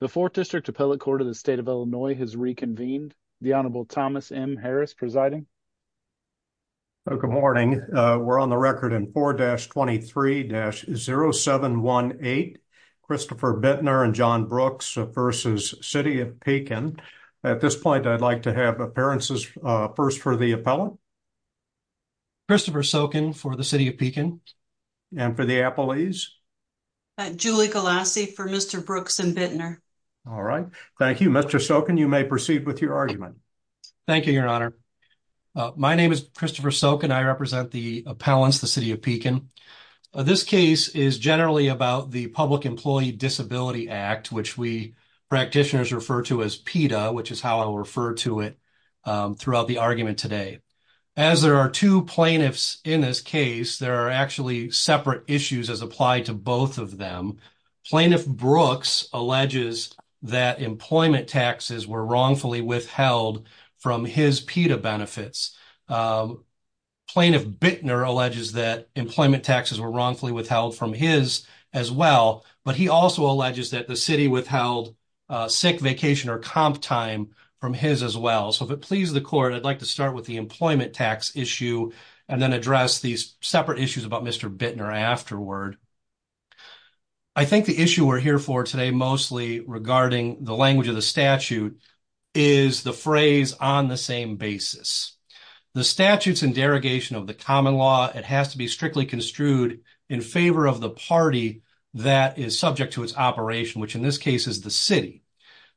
The 4th District Appellate Court of the State of Illinois has reconvened. The Honorable Thomas M. Harris presiding. So, good morning. We're on the record in 4-23-0718, Christopher Bittner and John Brooks v. City of Pekin. At this point, I'd like to have appearances first for the appellant. Christopher Sokin for the City of Pekin. And for the appellees? Julie Galassi for Mr. Brooks and Bittner. All right. Thank you. Mr. Sokin, you may proceed with your argument. Thank you, Your Honor. My name is Christopher Sokin. I represent the appellants, the City of Pekin. This case is generally about the Public Employee Disability Act, which we practitioners refer to as PETA, which is how I will refer to it throughout the argument today. As there are two plaintiffs in this case, there are actually separate issues as applied to both of them. Plaintiff Brooks alleges that employment taxes were wrongfully withheld from his PETA benefits. Plaintiff Bittner alleges that employment taxes were wrongfully withheld from his as well. But he also alleges that the city withheld sick vacation or comp time from his as If it pleases the court, I'd like to start with the employment tax issue and then address these separate issues about Mr. Bittner afterward. I think the issue we're here for today, mostly regarding the language of the statute, is the phrase on the same basis. The statutes and derogation of the common law, it has to be strictly construed in favor of the party that is subject to its operation, which in this case is the city.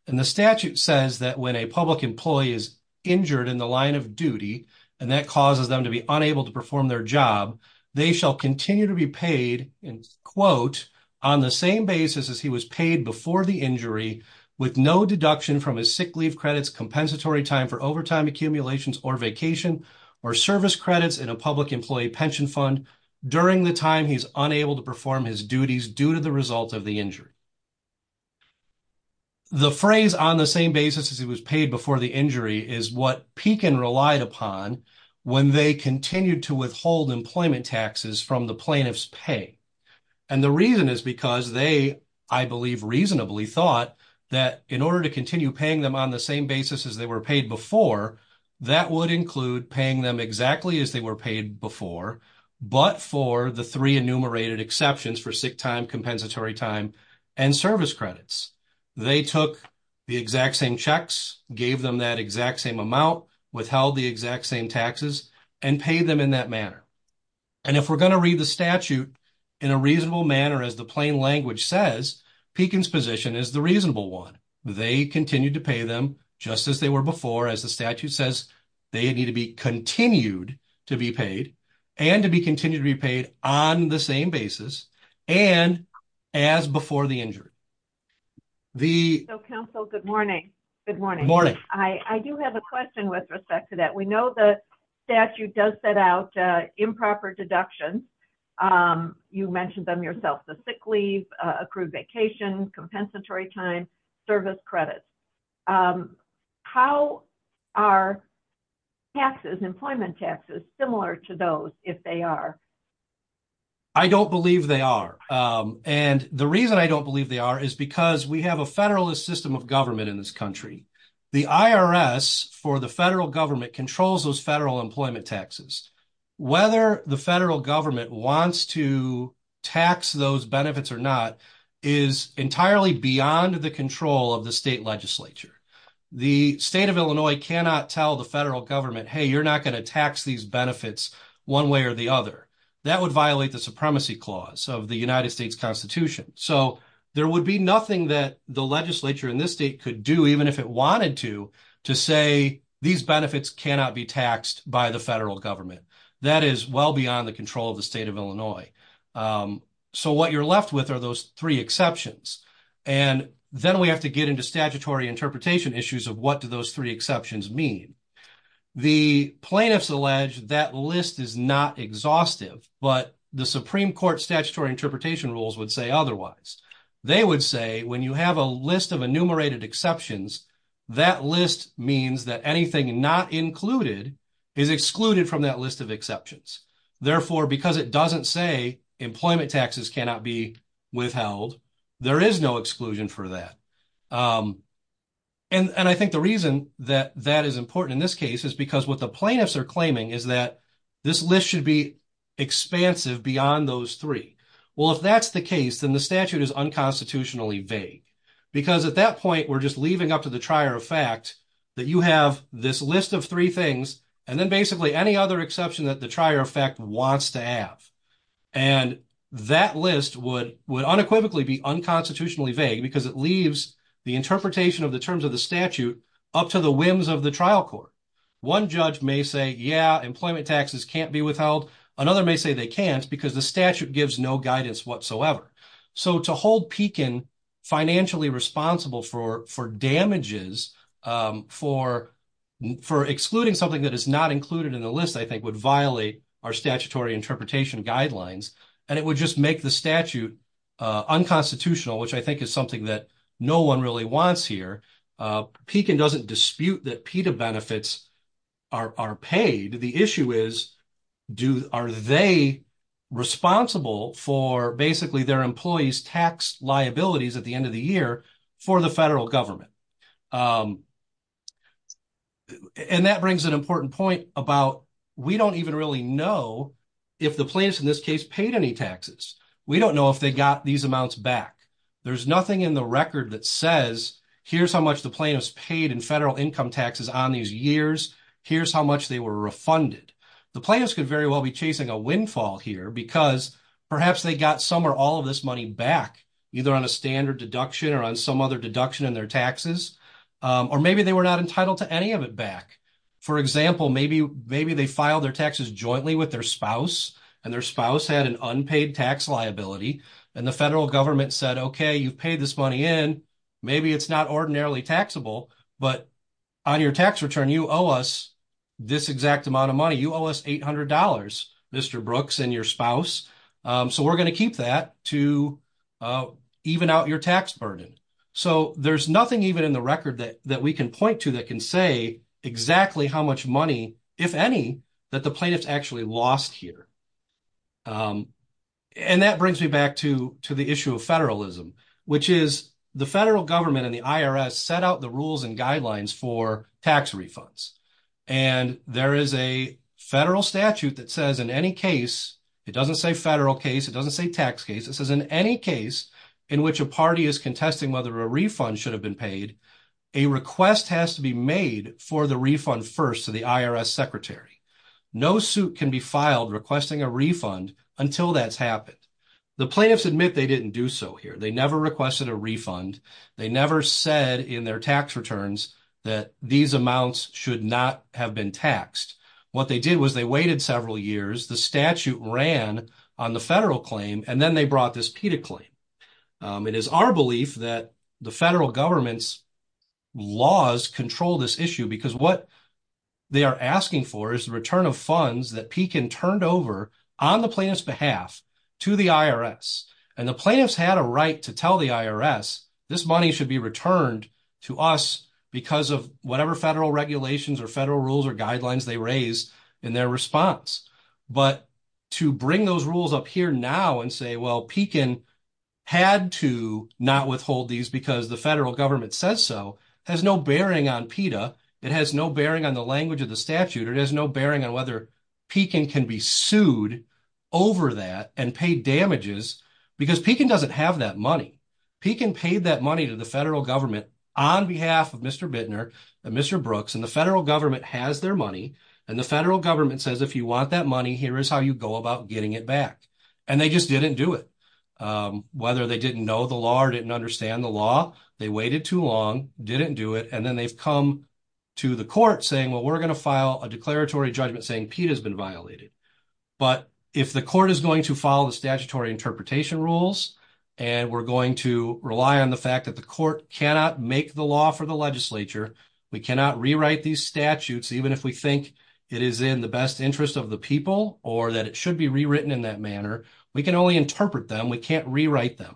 And the statute says that when a public employee is injured in the line of duty, and that causes them to be unable to perform their job, they shall continue to be paid in quote, on the same basis as he was paid before the injury, with no deduction from his sick leave credits, compensatory time for overtime accumulations or vacation, or service credits in a public employee pension fund during the time he's unable to perform his duties due to the The phrase on the same basis as he was paid before the injury is what Pekin relied upon when they continued to withhold employment taxes from the plaintiff's pay. And the reason is because they, I believe, reasonably thought that in order to continue paying them on the same basis as they were paid before, that would include paying them exactly as they were paid before, but for the three enumerated exceptions for sick time, compensatory time, and service credits. They took the exact same checks, gave them that exact same amount, withheld the exact same taxes, and paid them in that manner. And if we're going to read the statute in a reasonable manner, as the plain language says, Pekin's position is the reasonable one. They continued to pay them just as they were before, as the statute says, they need continued to be paid, and to be continued to be paid on the same basis, and as before the injury. So, counsel, good morning. Good morning. I do have a question with respect to that. We know the statute does set out improper deductions. You mentioned them yourself, the sick leave, accrued vacation, compensatory time, service credits. How are taxes, employment taxes, similar to those, if they are? I don't believe they are. And the reason I don't believe they are is because we have a federalist system of government in this country. The IRS, for the federal government, controls those federal employment taxes. Whether the federal government wants to tax those benefits or not is entirely beyond the control of the state legislature. The state of Illinois cannot tell the federal government, hey, you're not going to tax these benefits one way or the other. That would violate the supremacy clause of the United States Constitution. So there would be nothing that the legislature in this state could do, even if it wanted to, to say these benefits cannot be taxed by the federal government. That is well beyond the state of Illinois. So what you're left with are those three exceptions. And then we have to get into statutory interpretation issues of what do those three exceptions mean. The plaintiffs allege that list is not exhaustive, but the Supreme Court statutory interpretation rules would say otherwise. They would say when you have a list of enumerated exceptions, that list means that anything not included is excluded from that list of exceptions. Therefore, because it doesn't say employment taxes cannot be withheld, there is no exclusion for that. And I think the reason that that is important in this case is because what the plaintiffs are claiming is that this list should be expansive beyond those three. Well, if that's the case, then the statute is unconstitutionally vague. Because at that point, we're just leaving up to the trier of fact that you have this list of three things, and then basically any other exception that the trier of fact wants to have. And that list would unequivocally be unconstitutionally vague because it leaves the interpretation of the terms of the statute up to the whims of the trial court. One judge may say, yeah, employment taxes can't be withheld. Another may say they can't because the statute gives no guidance whatsoever. So to hold Pekin financially responsible for damages, for excluding something that is not included in the list, I think would violate our statutory interpretation guidelines. And it would just make the statute unconstitutional, which I think is something that no one really wants here. Pekin doesn't dispute that PETA benefits are paid. The issue is, are they responsible for basically their employees' tax liabilities at the end of the year for the federal government? And that brings an important point about we don't even really know if the plaintiffs in this case paid any taxes. We don't know if they got these amounts back. There's nothing in the record that says, here's how much the plaintiffs paid in federal income taxes on these years. Here's how much they were refunded. The plaintiffs could very well be chasing a windfall here because perhaps they got some or all of this money back, either on a standard deduction or on some other deduction in their taxes. Or maybe they were not entitled to any of it back. For example, maybe they filed their taxes jointly with their spouse, and their spouse had an unpaid tax liability, and the federal government said, okay, you've paid this money in. Maybe it's not ordinarily taxable, but on your tax return, you owe us this exact amount of money. You owe us $800, Mr. Brooks and your spouse. So we're going to keep that to even out your tax burden. So there's nothing even in the record that we can point to that can say exactly how much money, if any, that the plaintiffs actually lost here. And that brings me back to the issue of federalism, which is the federal government and the IRS set out the rules and guidelines for tax refunds. And there is a federal statute that says in any case, it doesn't say federal case, it doesn't say tax case, it says in any case in which a party is contesting whether a refund should have been paid, a request has to be made for the refund first to the IRS secretary. No suit can be filed requesting a refund until that's happened. The plaintiffs admit they didn't do so here. They never requested a refund. They said in their tax returns that these amounts should not have been taxed. What they did was they waited several years. The statute ran on the federal claim and then they brought this PETA claim. It is our belief that the federal government's laws control this issue because what they are asking for is the return of funds that Pekin turned over on the plaintiff's behalf to the IRS. And the plaintiffs had a right to tell the IRS this money should be returned to us because of whatever federal regulations or federal rules or guidelines they raised in their response. But to bring those rules up here now and say, well, Pekin had to not withhold these because the federal government says so, has no bearing on PETA. It has no bearing on the language of the statute. It has bearing on whether Pekin can be sued over that and pay damages because Pekin doesn't have that money. Pekin paid that money to the federal government on behalf of Mr. Bittner and Mr. Brooks. And the federal government has their money. And the federal government says, if you want that money, here is how you go about getting it back. And they just didn't do it. Whether they didn't know the law or didn't understand the law, they waited too long, didn't do it. And then they've come to the court saying, well, we're going to file a declaratory judgment saying PETA has been violated. But if the court is going to follow the statutory interpretation rules, and we're going to rely on the fact that the court cannot make the law for the legislature, we cannot rewrite these statutes, even if we think it is in the best interest of the people or that it should be rewritten in that manner. We can only interpret them. We can't rewrite them.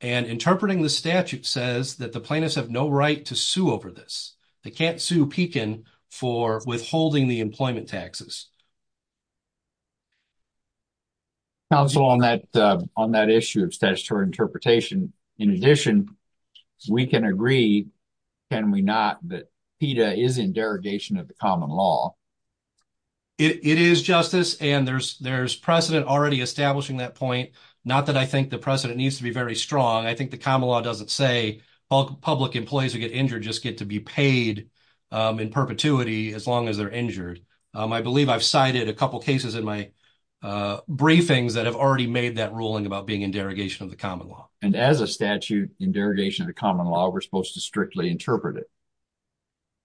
And interpreting the statute says that the plaintiffs have no right to sue over this. They can't sue Pekin for withholding the employment taxes. Counsel, on that issue of statutory interpretation, in addition, we can agree, can we not, that PETA is in derogation of the common law? It is, Justice. And there's precedent already establishing that point. Not that I think the precedent needs to be very strong. I think the common law doesn't say public employees who get injured just get to be paid in perpetuity as long as they're injured. I believe I've cited a couple of cases in my briefings that have already made that ruling about being in derogation of the common law. And as a statute in derogation of the common law, we're supposed to strictly interpret it.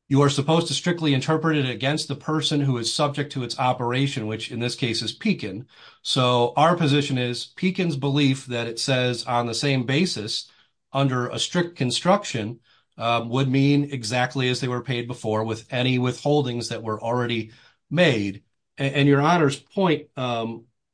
You are supposed to strictly interpret it against the person who is subject to its operation, which in this case is Pekin. So our position is Pekin's belief that it says on the same basis under a strict construction would mean exactly as they were paid before with any withholdings that were already made. And your Honor's point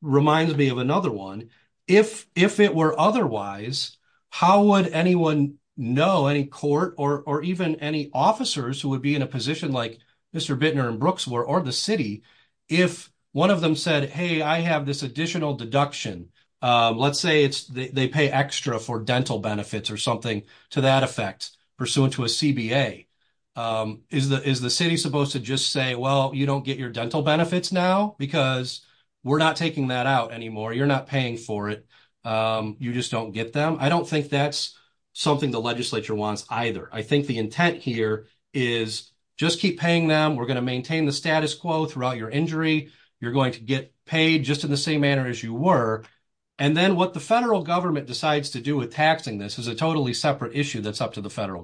reminds me of another one. If it were otherwise, how would anyone know, any court or even any officers who would be in a position like Mr. Bittner in Brooksville or the city if one of them said, hey, I have this additional deduction. Let's say they pay extra for dental benefits or something to that effect pursuant to a CBA. Is the city supposed to just say, well, you don't get your dental benefits now because we're not taking that out anymore. You're not paying for it. You just don't get them. I don't think that's something the legislature wants either. I think the intent here is just keep paying them. We're going to maintain the status quo throughout your injury. You're going to get paid just in the same manner as you were. And then what the federal government decides to do with taxing this is a totally separate issue that's up to the federal government.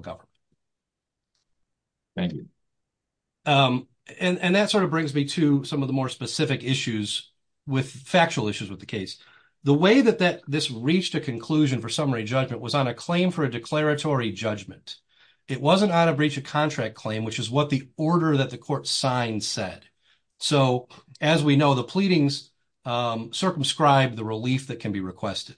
Thank you. And that sort of brings me to some of the more specific issues with factual issues with the case. The way that this reached a conclusion for summary judgment was on a claim for a declaratory judgment. It wasn't on a breach of contract claim, which is what the order that the court signed said. So as we know, the pleadings circumscribed the relief that can be requested.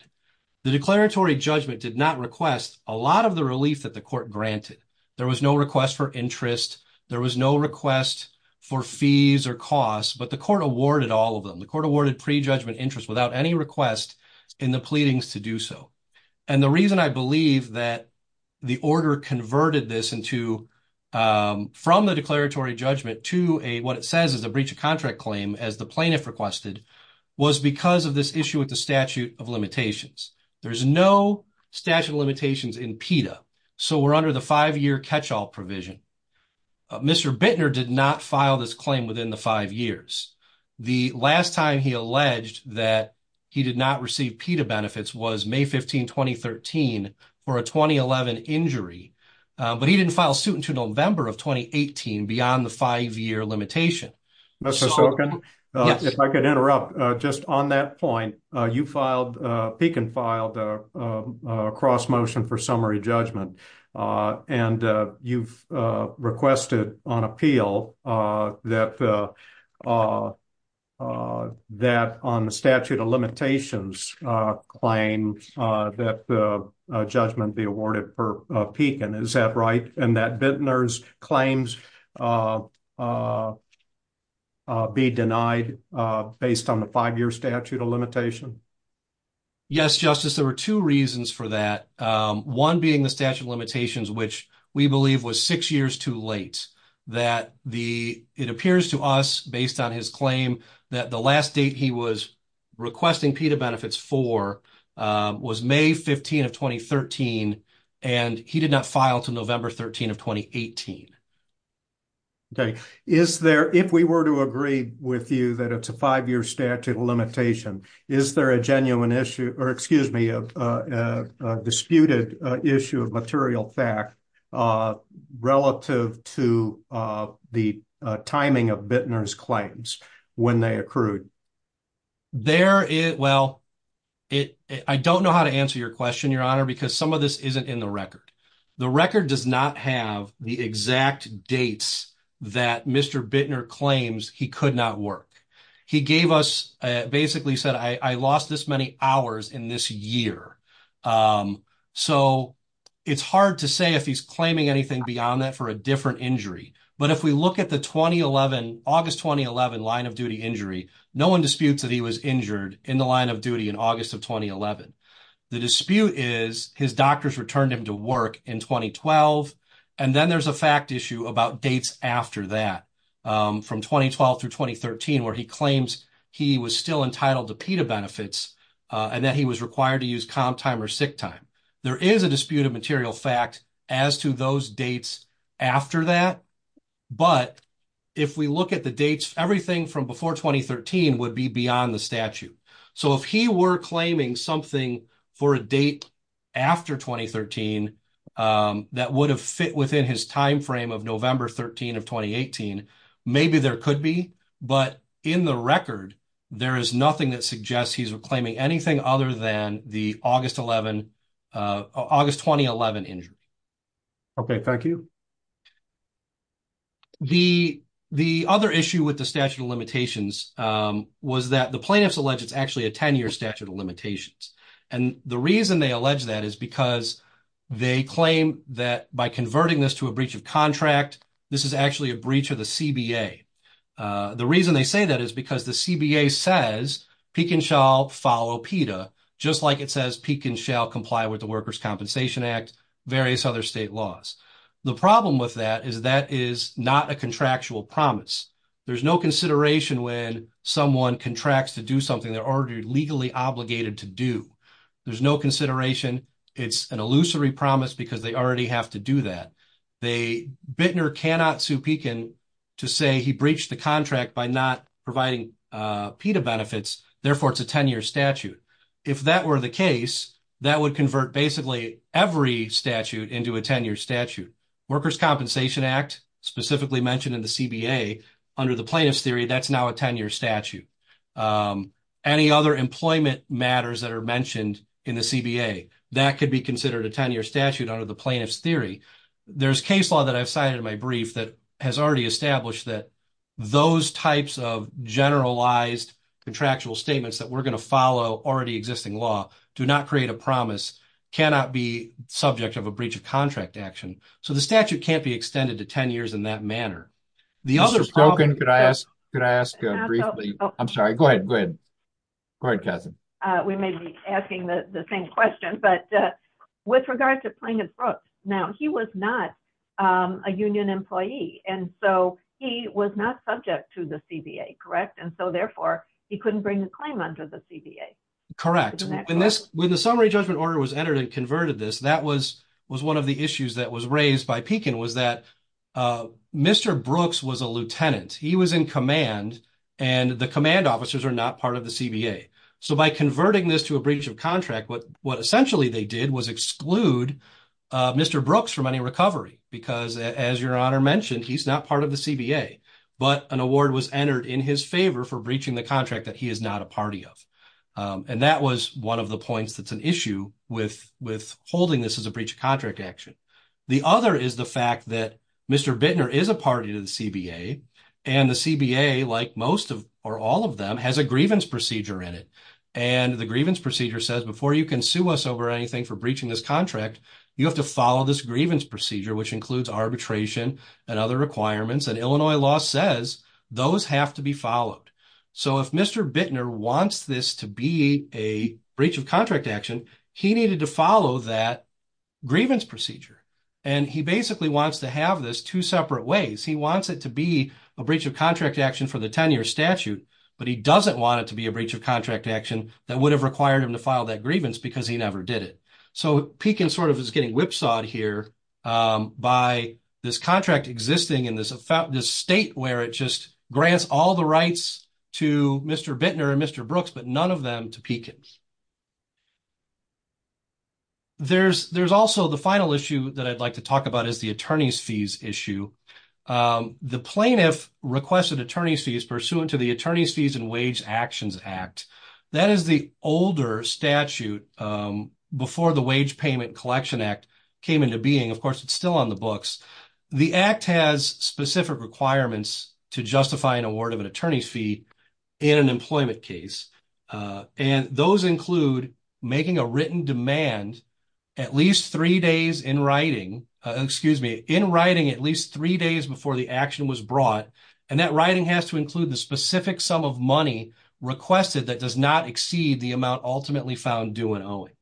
The declaratory judgment did not request a lot of the relief that the court granted. There was no request for interest. There was no request for fees or costs. But the court awarded all of them. The court awarded pre-judgment interest without any request in the pleadings to do so. And the reason I believe that the order converted this into from the declaratory judgment to a what it says is a breach of contract claim, as the plaintiff requested, was because of this issue with the statute of limitations. There's no statute of limitations in PETA. So we're under the five-year catch-all provision. Mr. Bittner did not file this claim within the five years. The last time he alleged that he did not receive PETA benefits was May 15, 2013 for a 2011 injury. But he didn't file suit to November of 2018 beyond the five-year limitation. Mr. Sokin, if I could interrupt, just on that point, you filed, Pekin filed a cross-motion for summary judgment. And you've requested on appeal that on the statute of limitations claim that judgment be awarded for Pekin. Is that right? And that Bittner's claims be denied based on the five-year statute of limitation? Yes, Justice. There were two reasons for that. One being the statute of limitations, which we believe was six years too late. That the, it appears to us based on his claim, that the last date he was requesting PETA benefits for was May 15 of 2013. And he did not file to November 13 of 2018. Okay. Is there, if we were to agree with you that it's a five-year statute of limitation, is there a genuine issue or excuse me, a disputed issue of material fact relative to the timing of Bittner's claims when they accrued? There is, well, I don't know how to answer your question, Your Honor, because some of this isn't in the record. The record does not have the exact dates that Mr. Bittner claims he could not work. He gave us, basically said, I lost this many hours in this year. So it's hard to say if he's anything beyond that for a different injury. But if we look at the 2011, August 2011 line of duty injury, no one disputes that he was injured in the line of duty in August of 2011. The dispute is his doctors returned him to work in 2012. And then there's a fact issue about dates after that, from 2012 through 2013, where he claims he was still entitled to PETA benefits and that he was required to use comp time or sick time. There is a disputed material fact as to those dates after that. But if we look at the dates, everything from before 2013 would be beyond the statute. So if he were claiming something for a date after 2013, that would have fit within his timeframe of November 13 of 2018, maybe there could be. But in the record, there is nothing that suggests he's claiming anything other than the August 2011 injury. Okay. Thank you. The other issue with the statute of limitations was that the plaintiffs alleged it's actually a 10-year statute of limitations. And the reason they allege that is because they claim that by converting this to a breach of contract, this is actually a breach of the CBA. The reason they say that is because the CBA says Pekin shall follow PETA, just like it says Pekin shall comply with Workers' Compensation Act, various other state laws. The problem with that is that is not a contractual promise. There's no consideration when someone contracts to do something they're already legally obligated to do. There's no consideration. It's an illusory promise because they already have to do that. Bittner cannot sue Pekin to say he breached the contract by not providing PETA benefits. Therefore, it's a 10-year statute. If that were the case, that would convert basically every statute into a 10-year statute. Workers' Compensation Act, specifically mentioned in the CBA, under the plaintiff's theory, that's now a 10-year statute. Any other employment matters that are mentioned in the CBA, that could be considered a 10-year statute under the plaintiff's theory. There's case law that I've cited in my brief that has already established that those types of generalized contractual statements that we're going to follow already existing law, do not create a promise, cannot be subject of a breach of contract action. So, the statute can't be extended to 10 years in that manner. Mr. Spoken, could I ask briefly? I'm sorry. Go ahead. Go ahead. Go ahead, Katherine. We may be asking the same question, but with regard to Plaintiff Brooks, now, he was not a union employee. And so, he was not subject to the CBA, correct? And so, therefore, he couldn't bring a claim under the CBA. Correct. When the summary judgment order was entered and converted this, that was one of the issues that was raised by Pekin, was that Mr. Brooks was a lieutenant. He was in command, and the command officers are not part of the CBA. So, by converting this to a breach of contract, what essentially they did was exclude Mr. Brooks from any recovery, because as your honor mentioned, he's not part of the CBA. But an award was entered in his favor for breaching the contract that he is not a party of. And that was one of the points that's an issue with holding this as a breach of contract action. The other is the fact that Mr. Bittner is a party to the CBA, and the CBA, like most of or all of them, has a grievance procedure in it. And the grievance procedure says, before you can sue us or anything for breaching this contract, you have to follow this grievance procedure, which includes arbitration and other requirements. And Illinois law says those have to be followed. So, if Mr. Bittner wants this to be a breach of contract action, he needed to follow that grievance procedure. And he basically wants to have this two separate ways. He wants it to be a breach of contract action for the 10-year statute, but he doesn't want it to be a breach of contract action that would have required him to file that grievance because he never did it. So, Pekin sort of is getting whipsawed here by this contract existing in this state where it just grants all the rights to Mr. Bittner and Mr. Brooks, but none of them to Pekin. There's also the final issue that I'd like to talk about is the attorney's fees issue. The plaintiff requested attorney's fees pursuant to the Attorney's Fees and Wage Actions Act. That is the older statute before the Wage Payment Collection Act came into being. Of course, it's still on the books. The Act has specific requirements to justify an award of an attorney's fee in an employment case. And those include making a written demand at least three days in writing, excuse me, in writing at least three days before the action was brought. And that writing has to include the specific sum of money requested that does not exceed the amount ultimately found due and owing.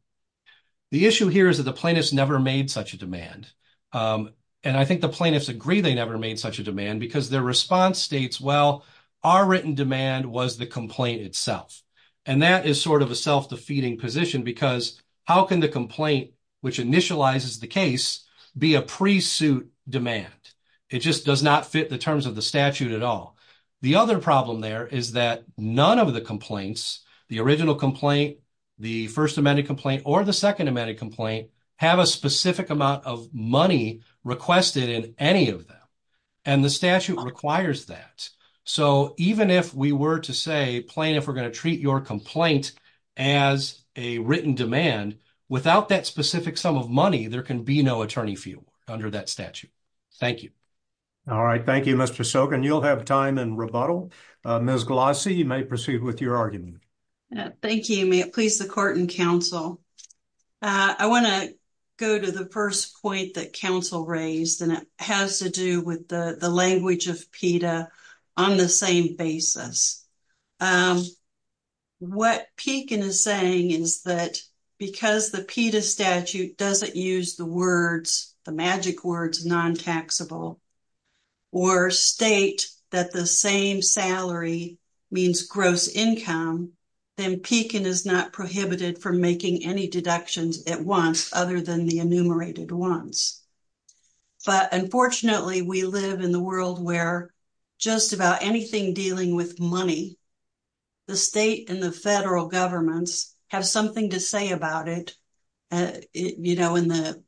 The issue here is that the plaintiffs never made such a demand. And I think the plaintiffs agree they never made such a demand because their response states, well, our written demand was the complaint itself. And that is sort of a because how can the complaint, which initializes the case, be a pre-suit demand? It just does not fit the terms of the statute at all. The other problem there is that none of the complaints, the original complaint, the First Amendment complaint, or the Second Amendment complaint, have a specific amount of money requested in any of them. And the statute requires that. So even if we were to say, plaintiff, we're going to treat your complaint as a written demand, without that specific sum of money, there can be no attorney fee under that statute. Thank you. All right. Thank you, Mr. Sokin. You'll have time in rebuttal. Ms. Glossy, you may proceed with your argument. Thank you. May it please the court and counsel. I want to go to the first point that counsel raised, and it has to do with the language of PETA on the same basis. What Pekin is saying is that because the PETA statute doesn't use the words, the magic words, non-taxable, or state that the same salary means gross income, then Pekin is not prohibited from making any deductions at once, other than the enumerated ones. But unfortunately, we live in the world where just about anything dealing with money, the state and the federal governments have something to say about it, you know, in the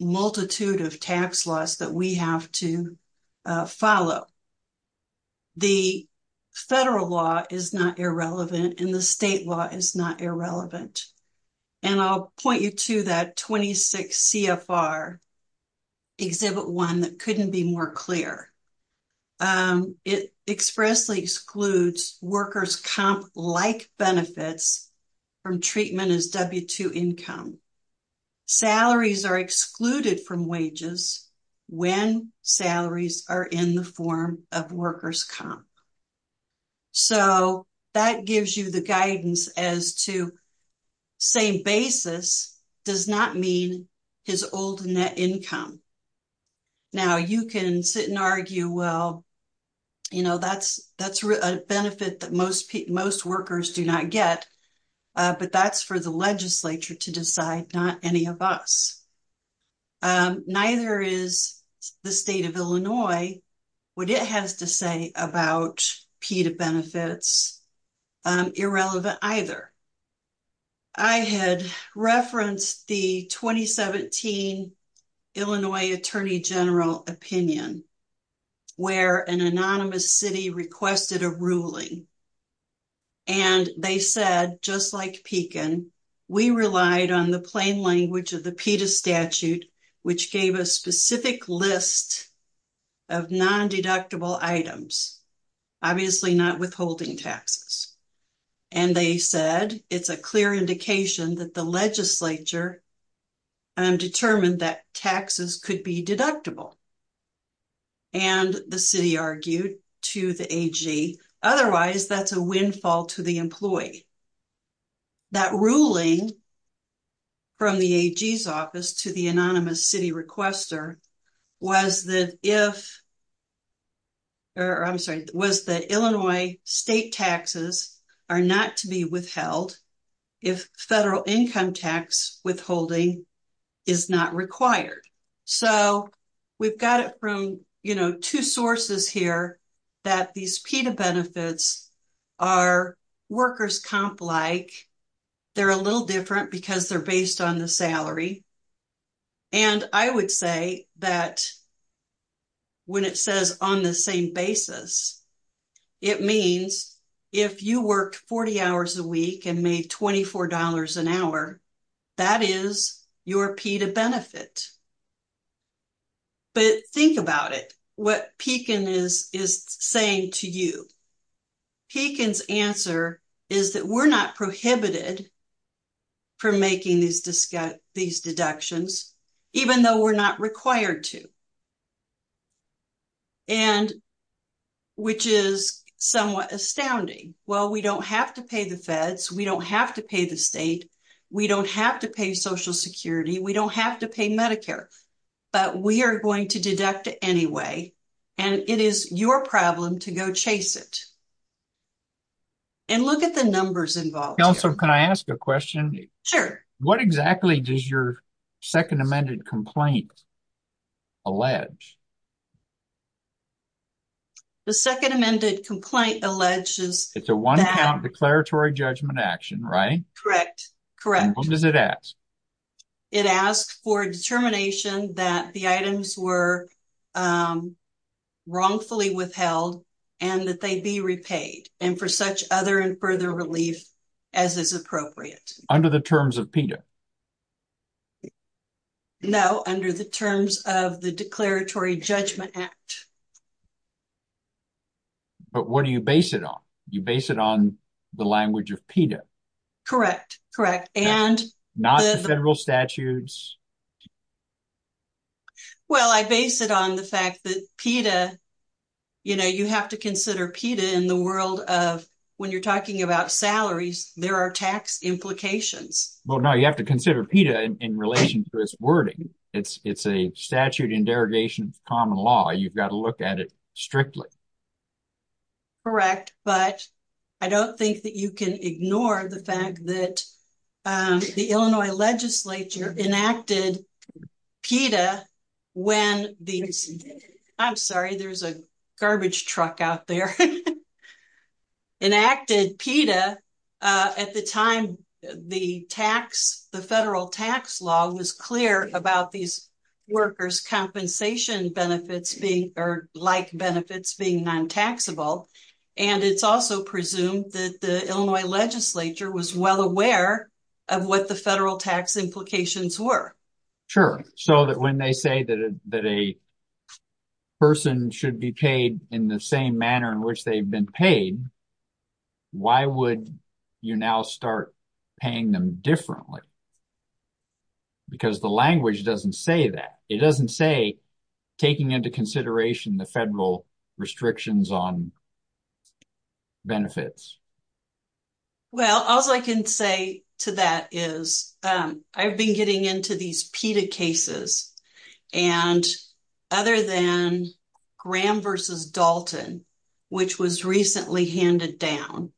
multitude of tax laws that we have to follow. The federal law is not irrelevant, and the state law is not irrelevant. And I'll point you to that 26 CFR Exhibit 1 that couldn't be more clear. It expressly excludes workers' comp-like benefits from treatment as W-2 income. Salaries are excluded from wages when salaries are in the form of workers' comp. So, that gives you the guidance as to same basis does not mean his old net income. Now, you can sit and argue, well, you know, that's a benefit that most workers do not get, but that's for the legislature to decide, not any of us. And neither is the state of Illinois, what it has to say about PETA benefits irrelevant either. I had referenced the 2017 Illinois Attorney General opinion, where an anonymous city requested a ruling. And they said, just like Pekin, we relied on the plain language of the PETA statute, which gave a specific list of non-deductible items, obviously not withholding taxes. And they said it's a clear indication that the legislature determined that taxes could be deductible. And the city argued to the AG, otherwise that's a windfall to the employee. That ruling from the AG's office to the anonymous city requester was that if, or I'm sorry, was that Illinois state taxes are not to be withheld if federal income tax withholding is not required. So we've got it from, you know, two sources here that these PETA benefits are workers comp like, they're a little different because they're based on the salary. And I would say that when it says on the same basis, it means if you worked 40 hours a week and made $24 an hour, that is your PETA benefit. But think about it, what Pekin is saying to you. Pekin's answer is that we're not prohibited from making these deductions, even though we're not required to. And which is somewhat astounding. Well, we don't have to pay the feds. We don't have to pay the state. We don't have to pay social security. We don't have to pay Medicare, but we are going to deduct it anyway. And it is your problem to go chase it. And look at the numbers involved. Counselor, can I ask a question? Sure. What exactly does your second amended complaint allege? The second amended complaint alleges that... It's a one count declaratory judgment action, right? Correct. Correct. And what does it ask? It asks for determination that the items were wrongfully withheld and that they be repaid and for such other and further relief as is appropriate. Under the terms of PETA? No, under the terms of the Declaratory Judgment Act. But what do you base it on? You base it on the language of PETA? Correct. Correct. And... Not the federal statutes? Well, I base it on the fact that PETA, you know, you have to consider PETA in the world of when you're talking about salaries, there are tax implications. Well, no, you have to consider PETA in relation to its wording. It's a statute in derogation of common law. You've got to look at it strictly. Correct, but I don't think that you can ignore the fact that the Illinois legislature enacted PETA when these... I'm sorry, there's a garbage truck out there. ...enacted PETA at the time the tax, the federal tax law was clear about these workers' compensation benefits being or like benefits being non-taxable. And it's also presumed that the Illinois legislature was well aware of what the federal tax implications were. Sure. So that when they say that a person should be paid in the same manner they've been paid, why would you now start paying them differently? Because the language doesn't say that. It doesn't say taking into consideration the federal restrictions on benefits. Well, all I can say to that is I've been getting into these PETA cases, and other than Graham v. Dalton, which was recently handed down,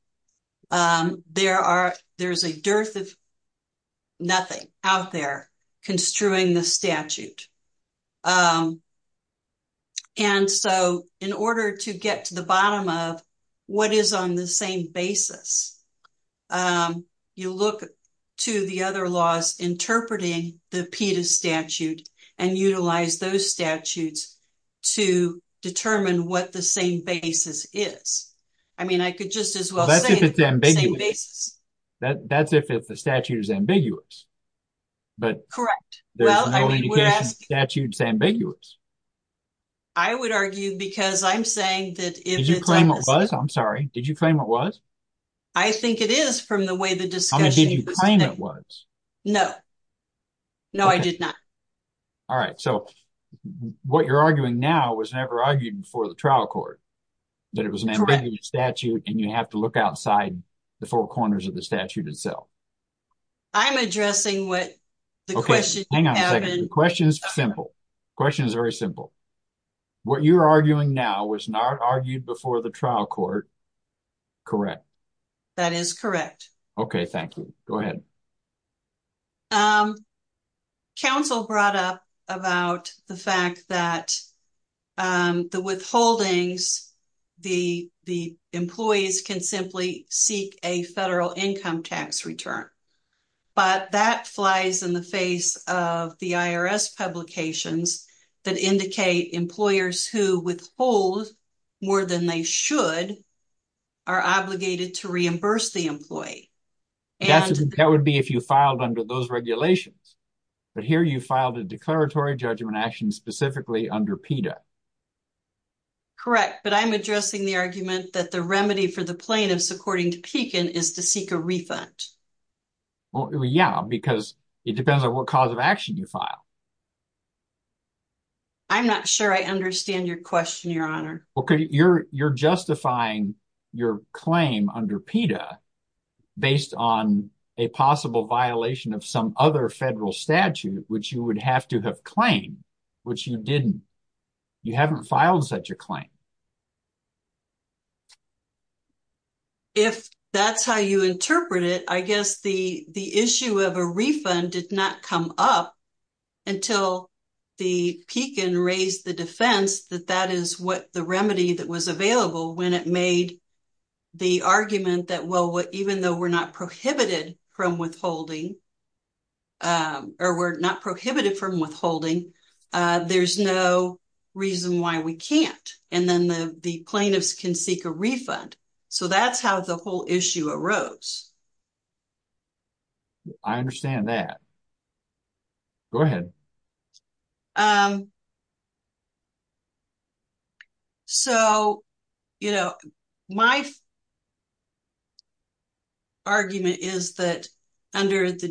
there's a dearth of nothing out there construing the statute. And so in order to get to the bottom of what is on the same basis, you look to the other laws interpreting the PETA statute and utilize those statutes to determine what the same basis is. I mean, I could just as well say... That's if it's ambiguous. That's if the statute is ambiguous. But there's no indication the statute's ambiguous. I would argue because I'm saying that if it's... Did you claim it was? I'm sorry. Did you claim it was? I think it is from the way the discussion... I mean, did you claim it was? No. No, I did not. All right. So what you're arguing now was never argued before the trial court, that it was an ambiguous statute, and you have to look outside the four corners of the statute itself. I'm addressing what the question... Hang on a second. The question is simple. The question is very simple. What you're arguing now was not argued before the trial court. Correct. That is correct. Okay. Thank you. Go ahead. Council brought up about the fact that the withholdings, the employees can simply seek a federal income tax return. But that flies in the face of the IRS publications that indicate employers who withhold more than they should are obligated to reimburse the employee. That would be if you filed under those regulations. But here you filed a declaratory judgment action specifically under PETA. Correct. But I'm addressing the argument that the remedy for the plaintiffs, according to Pekin, is to seek a refund. Yeah, because it depends on what cause of action you file. I'm not sure I understand your question, Your Honor. You're justifying your claim under PETA based on a possible violation of some other federal statute, which you would have to have claimed, which you didn't. You haven't filed such a claim. If that's how you interpret it, I guess the issue of a refund did not come up until the Pekin raised the defense that that is what the remedy that was available when it made the argument that, well, even though we're not prohibited from withholding, or we're not prohibited from withholding, there's no reason why we can't. And then the plaintiffs can seek a refund. So that's how the whole issue arose. I understand that. Go ahead. So, you know, my argument is that under the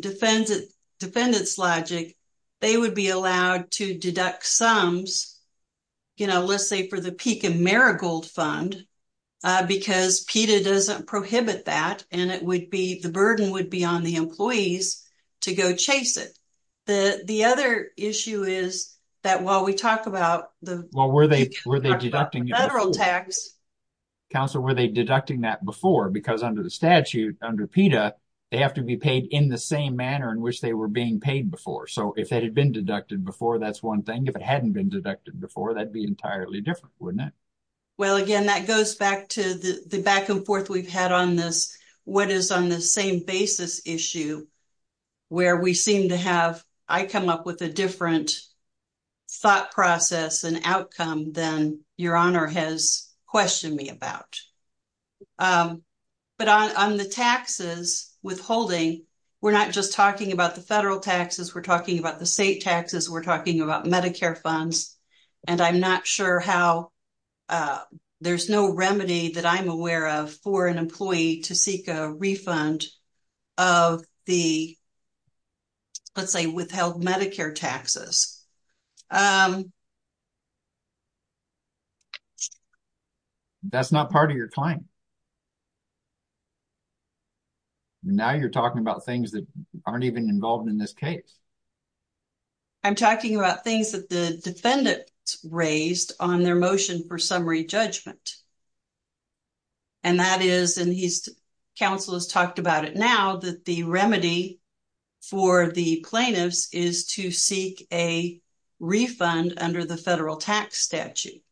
defendant's logic, they would be allowed to deduct sums, you know, let's say for the Pekin Marigold Fund, because PETA doesn't prohibit that and it would be the burden would be on the employees to go chase it. The other issue is that while we talk about the federal tax. Counsel, were they deducting that before? Because under the statute, under PETA, they have to be paid in the same manner in which they were being paid before. So if it had been deducted before, that's one thing. If it hadn't been deducted before, that'd be entirely different, wouldn't it? Well, again, that goes back to the back and forth we've had on this, what is on the same basis issue, where we seem to have, I come up with a different thought process and outcome than Your Honor has questioned me about. But on the taxes withholding, we're not just talking about the federal taxes, we're talking about the state taxes, we're talking about Medicare funds. And I'm not sure how, there's no remedy that I'm aware of for an employee to seek a refund of the, let's say, withheld Medicare taxes. That's not part of your claim. Now you're talking about things that aren't even involved in this case. I'm talking about things that the defendant raised on their motion for summary judgment. And that is, and he's, counsel has talked about it now, that the remedy for the plaintiffs is to seek a refund under the federal tax statute.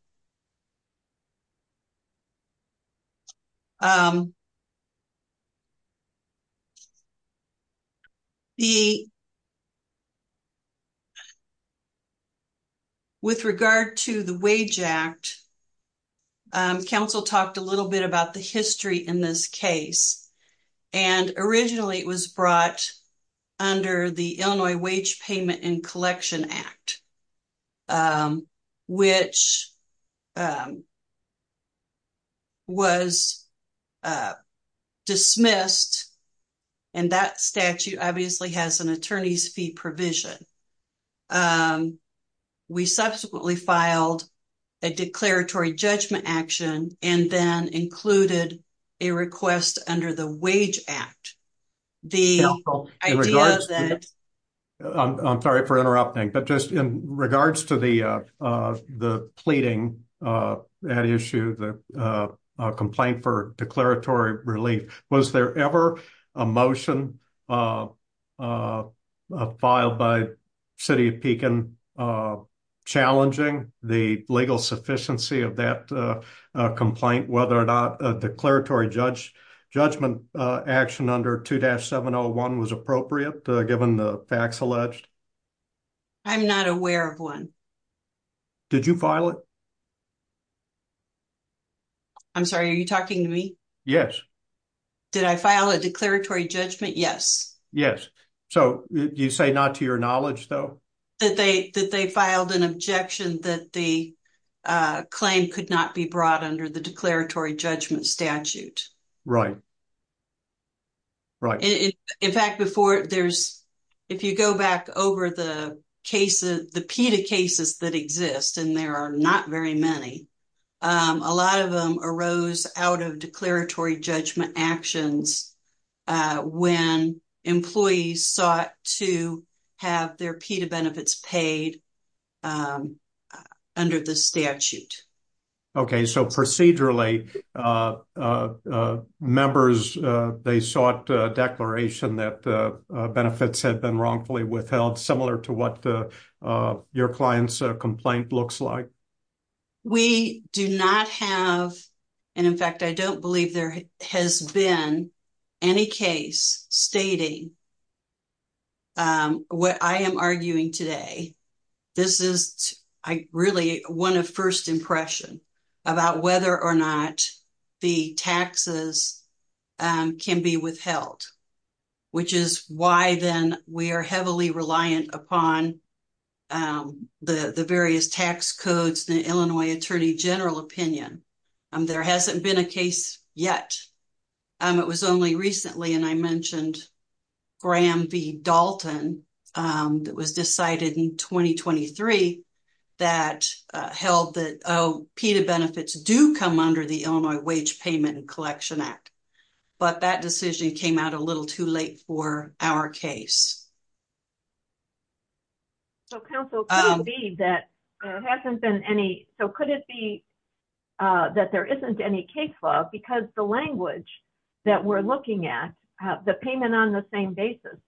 The, with regard to the Wage Act, counsel talked a little bit about the history in this case. And originally it was brought under the Illinois Wage Payment and Collection Act, which was dismissed, and that statute obviously has an attorney's fee provision. We subsequently filed a declaratory judgment action and then included a request under the Wage Regards to the pleading at issue, the complaint for declaratory relief. Was there ever a motion filed by City of Pekin challenging the legal sufficiency of that complaint, whether or not a declaratory judgment action under 2-701 was appropriate, given the facts alleged? I'm not aware of one. Did you file it? I'm sorry, are you talking to me? Yes. Did I file a declaratory judgment? Yes. Yes. So you say not to your knowledge though? That they filed an objection that the claim could not be brought under the declaratory judgment statute. Right. Right. In fact, if you go back over the PETA cases that exist, and there are not very many, a lot of them arose out of declaratory judgment actions when employees sought to have their PETA benefits paid under the statute. Okay. So procedurally, members, they sought a declaration that benefits had been wrongfully withheld, similar to what your client's complaint looks like? We do not have, and in fact, I don't believe there has been any case stating what I am arguing today. This is really one of first impression about whether or not the taxes can be withheld, which is why then we are heavily reliant upon the various tax codes, the Illinois Attorney General opinion. There hasn't been a case yet. It was only recently, and I mentioned Graham v. Dalton, that was decided in 2023, that held that, oh, PETA benefits do come under the Illinois Wage Payment and Collection Act. But that decision came out a little too late for our case. So counsel, could it be that there hasn't been any, so could it be that there isn't any case law? Because the language that we're looking at, the payment on the same basis,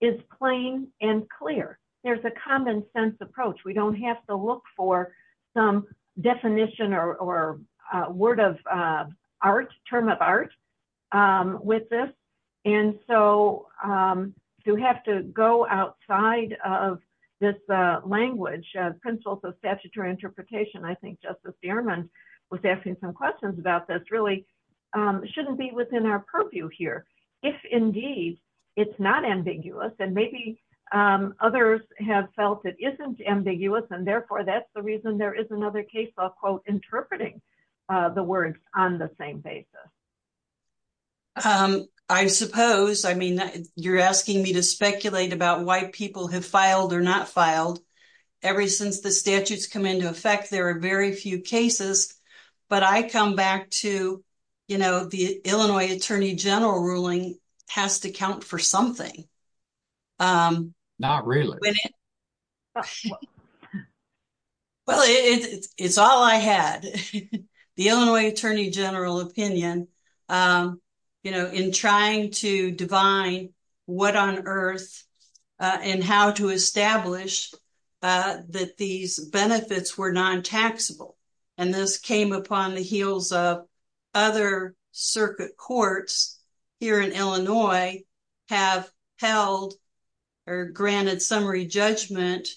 is plain and clear. There's a common sense approach. We don't have to look for some definition or word of art, term of art with this. And so to have to go outside of this language, principles of statutory interpretation, I think Justice Gehrman was asking some questions about this, really shouldn't be within our purview here. If indeed it's not ambiguous, and maybe others have felt it isn't ambiguous, and therefore that's the reason there is another case law, quote, interpreting the words on the same basis. I suppose. I mean, you're asking me to speculate about why people have filed or not filed. Ever since the statutes come into effect, there are very few cases. But I come back to, you know, the Illinois Attorney General ruling has to count for something. Not really. Well, it's all I had. The Illinois Attorney General opinion, you know, in trying to divine what on earth and how to establish that these benefits were non-taxable. And this came upon the heels of other circuit courts here in Illinois have held or granted summary judgment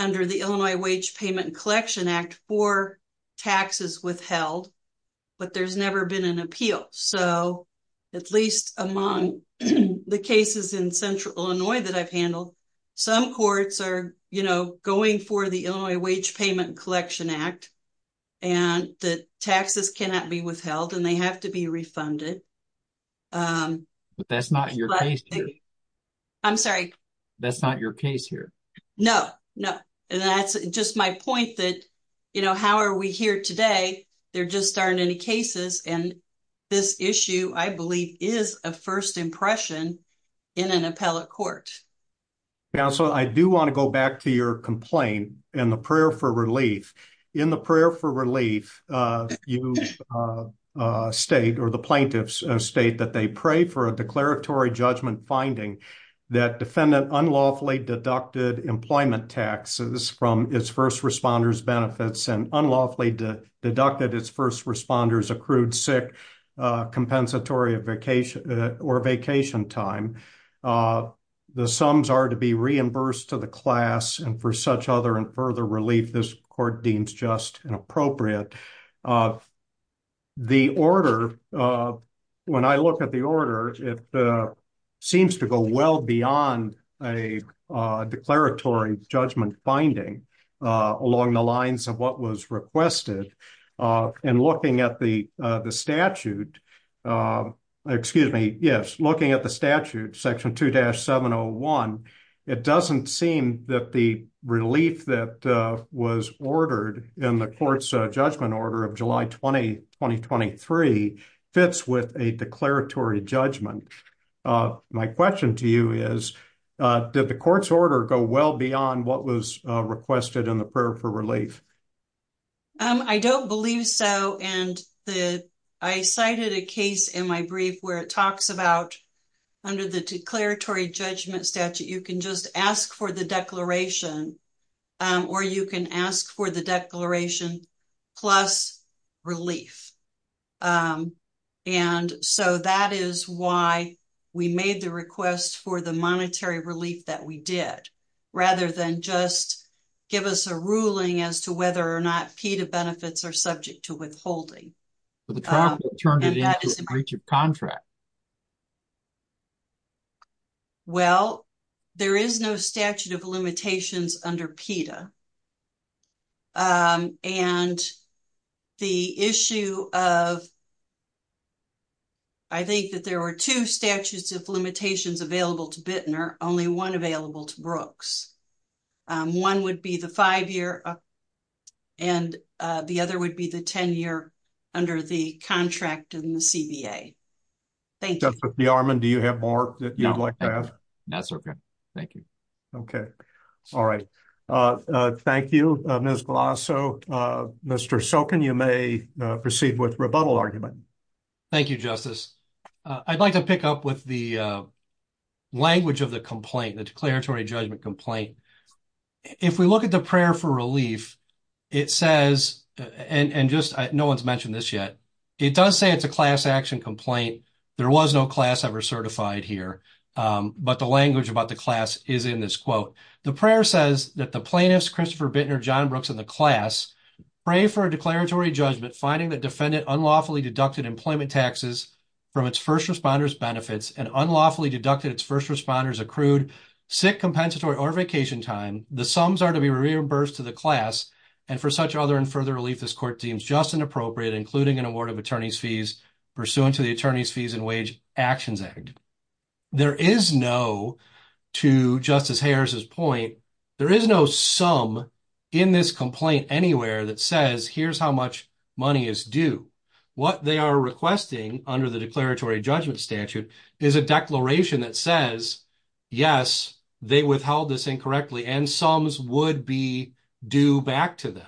under the Illinois Wage Payment Collection Act for taxes withheld. But there's never been an appeal. So at least among the cases in central Illinois that I've handled, some courts are, you know, going for the Illinois Wage Payment Collection Act and the taxes cannot be withheld and they have to be refunded. But that's not your case here. I'm sorry. That's not your case here. No, no. And that's just my point that, you know, how are we here today? There just aren't any cases. And this issue, I believe, is a first impression in an appellate court. Counselor, I do want to go back to your complaint and the prayer for relief. In the prayer for relief, you state or the plaintiffs state that they pray for a declaratory judgment finding that defendant unlawfully deducted employment taxes from its first responders' benefits and unlawfully deducted its first responders' accrued sick compensatory vacation or vacation time. The sums are to be reimbursed to the class and for such other and further relief, this court deems just inappropriate. The order, when I look at the order, it seems to go well beyond a declaratory judgment finding along the lines of what was requested. And looking at the statute, excuse me, yes, looking at the statute, section 2-701, it doesn't seem that the relief that was ordered in the court's judgment order of July 20, 2023, fits with a declaratory judgment. And my question to you is, did the court's order go well beyond what was requested in the prayer for relief? I don't believe so. And I cited a case in my brief where it talks about under the declaratory judgment statute, you can just ask for the declaration or you can ask for the declaration plus relief. And so that is why we made the request for the monetary relief that we did, rather than just give us a ruling as to whether or not PETA benefits are subject to withholding. But the trial court turned it into a breach of contract. Well, there is no statute of limitations under PETA. And the issue of, I think that there were two statutes of limitations available to Bittner, only one available to Brooks. One would be the five-year and the other would be the 10-year under the contract in the CBA. Thank you. Justice Bearman, do you have more that you would like to add? No, that's okay. Thank you. Okay. All right. Thank you, Ms. Glasso. Mr. Sokin, you may proceed with rebuttal argument. Thank you, Justice. I'd like to pick up with the language of the complaint, the declaratory judgment complaint. If we look at the prayer for relief, it says, and just no one's mentioned this yet, it does say it's a class action complaint. There was no class ever certified here. But the language about the class is in this quote. The prayer says that the plaintiffs, Christopher Bittner, John Brooks, and the class pray for a declaratory judgment finding the defendant unlawfully deducted employment taxes from its first responders benefits and unlawfully deducted its first responders accrued sick, compensatory, or vacation time. The sums are to be reimbursed to the class. And for such other and further relief, this court deems just and appropriate, including an award of attorney's fees pursuant to the Attorney's Fees and Wage Actions Act. There is no, to Justice Harris's point, there is no sum in this complaint anywhere that says, here's how much money is due. What they are requesting under the declaratory judgment statute is a declaration that says, yes, they withheld this incorrectly and sums would be due back to them.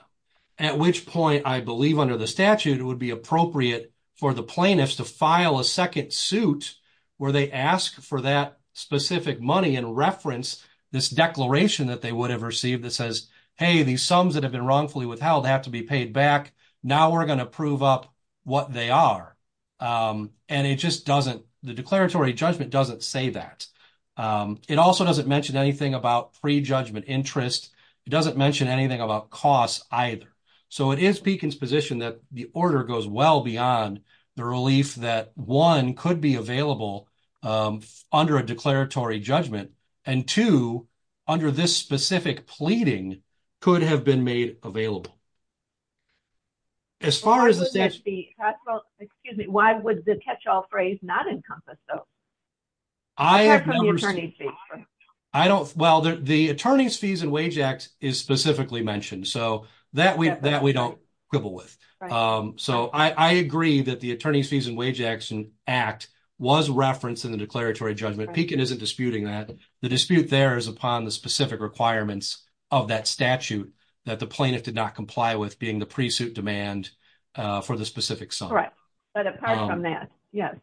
At which point, I believe under the statute, it would be appropriate for the plaintiffs to file a second suit where they ask for that specific money and reference this declaration that they would have received that says, hey, these sums that have been wrongfully withheld have to be paid back. Now we're going to prove up what they are. And it just doesn't, the declaratory judgment doesn't say that. It also doesn't mention anything about pre-judgment interest. It doesn't mention anything about costs either. So it is Peikin's position that the order goes well beyond the relief that, one, could be available under a declaratory judgment. And two, under this specific pleading, could have been made available. As far as the statute... Why would the catch-all phrase not encompass though? I have no... Apart from the attorney's fees. I don't, well, the Attorney's Fees and Wage Act is specifically mentioned. So that we don't quibble with. So I agree that the Attorney's Fees and Wage Act was referenced in the declaratory judgment. Peikin isn't disputing that. The dispute there is upon the specific requirements of that statute that the plaintiff did not comply with being the pre-suit demand for the specific sum. Correct. But apart from that, yes.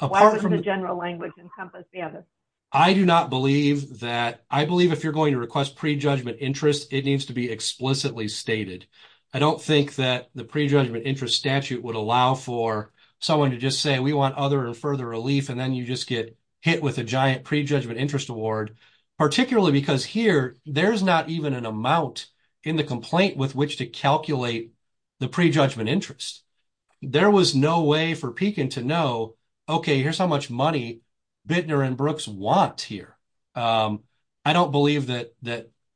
Why would the general language encompass the other? I do not believe that... I believe if you're going to request pre-judgment interest, it needs to be explicitly stated. I don't think that the pre-judgment interest statute would allow for someone to just say, we want other and further relief. And then you just get hit with a giant pre-judgment interest award. Particularly because here, there's not even an amount in the complaint with which to calculate the pre-judgment interest. There was no way for Peikin to know, okay, here's how much money Bittner and Brooks want here. I don't believe that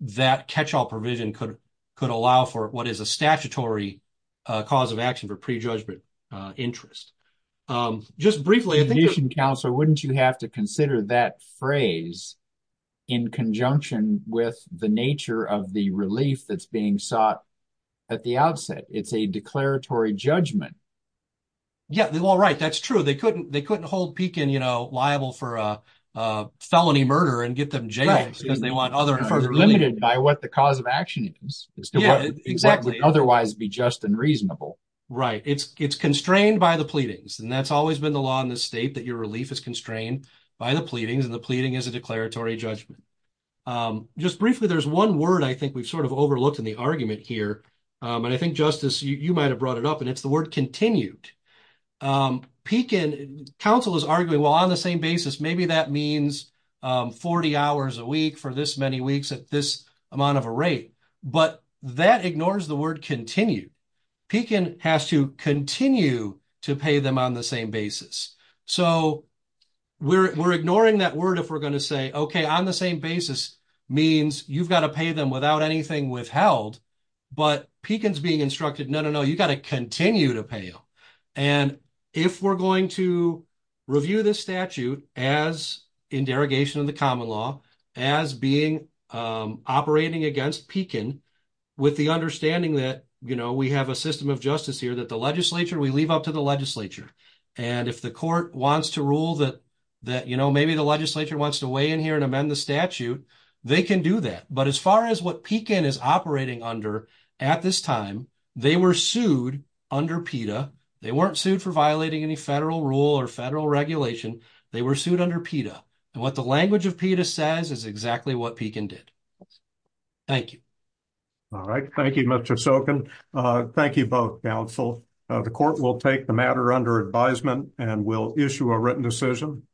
that catch-all provision could allow for what is a statutory cause of action for pre-judgment interest. Just briefly, I think... Commission Counselor, wouldn't you have to consider that phrase in conjunction with the nature of the relief that's being sought at the outset? It's a declaratory judgment. Yeah, well, right. That's true. They couldn't hold Peikin liable for a felony murder and get them jailed. Because they want other and further relief. Limited by what the cause of action is. Exactly. Otherwise be just and reasonable. Right. It's constrained by the pleadings. And that's always been the law in this state, that your relief is constrained by the pleadings. And the pleading is a declaratory judgment. Just briefly, there's one word I think we've sort of overlooked in the argument here. And I think, Justice, you might have brought it up. And it's the word continued. Peikin, counsel is arguing, well, on the same basis, maybe that means 40 hours a week for this many weeks at this amount of a rate. But that ignores the word continue. Peikin has to continue to pay them on the same basis. So we're ignoring that word if we're going to say, okay, on the same basis means you've got to pay them without anything withheld. But Peikin's being instructed, no, no, no, you got to continue to pay them. And if we're going to review this statute as in derogation of the common law, as being operating against Peikin, with the understanding that, you know, we have a system of justice here that the legislature, we leave up to the legislature. And if the court wants to rule that, you know, maybe the legislature wants to weigh in here and amend the statute, they can do that. But as far as what Peikin is operating under at this time, they were sued under PETA. They weren't sued for violating any federal rule or federal regulation. They were sued under PETA. And what the language of PETA says is exactly what Peikin did. Thank you. All right. Thank you, Mr. Sokin. Thank you both, counsel. The court will take the matter under advisement and will issue a written decision.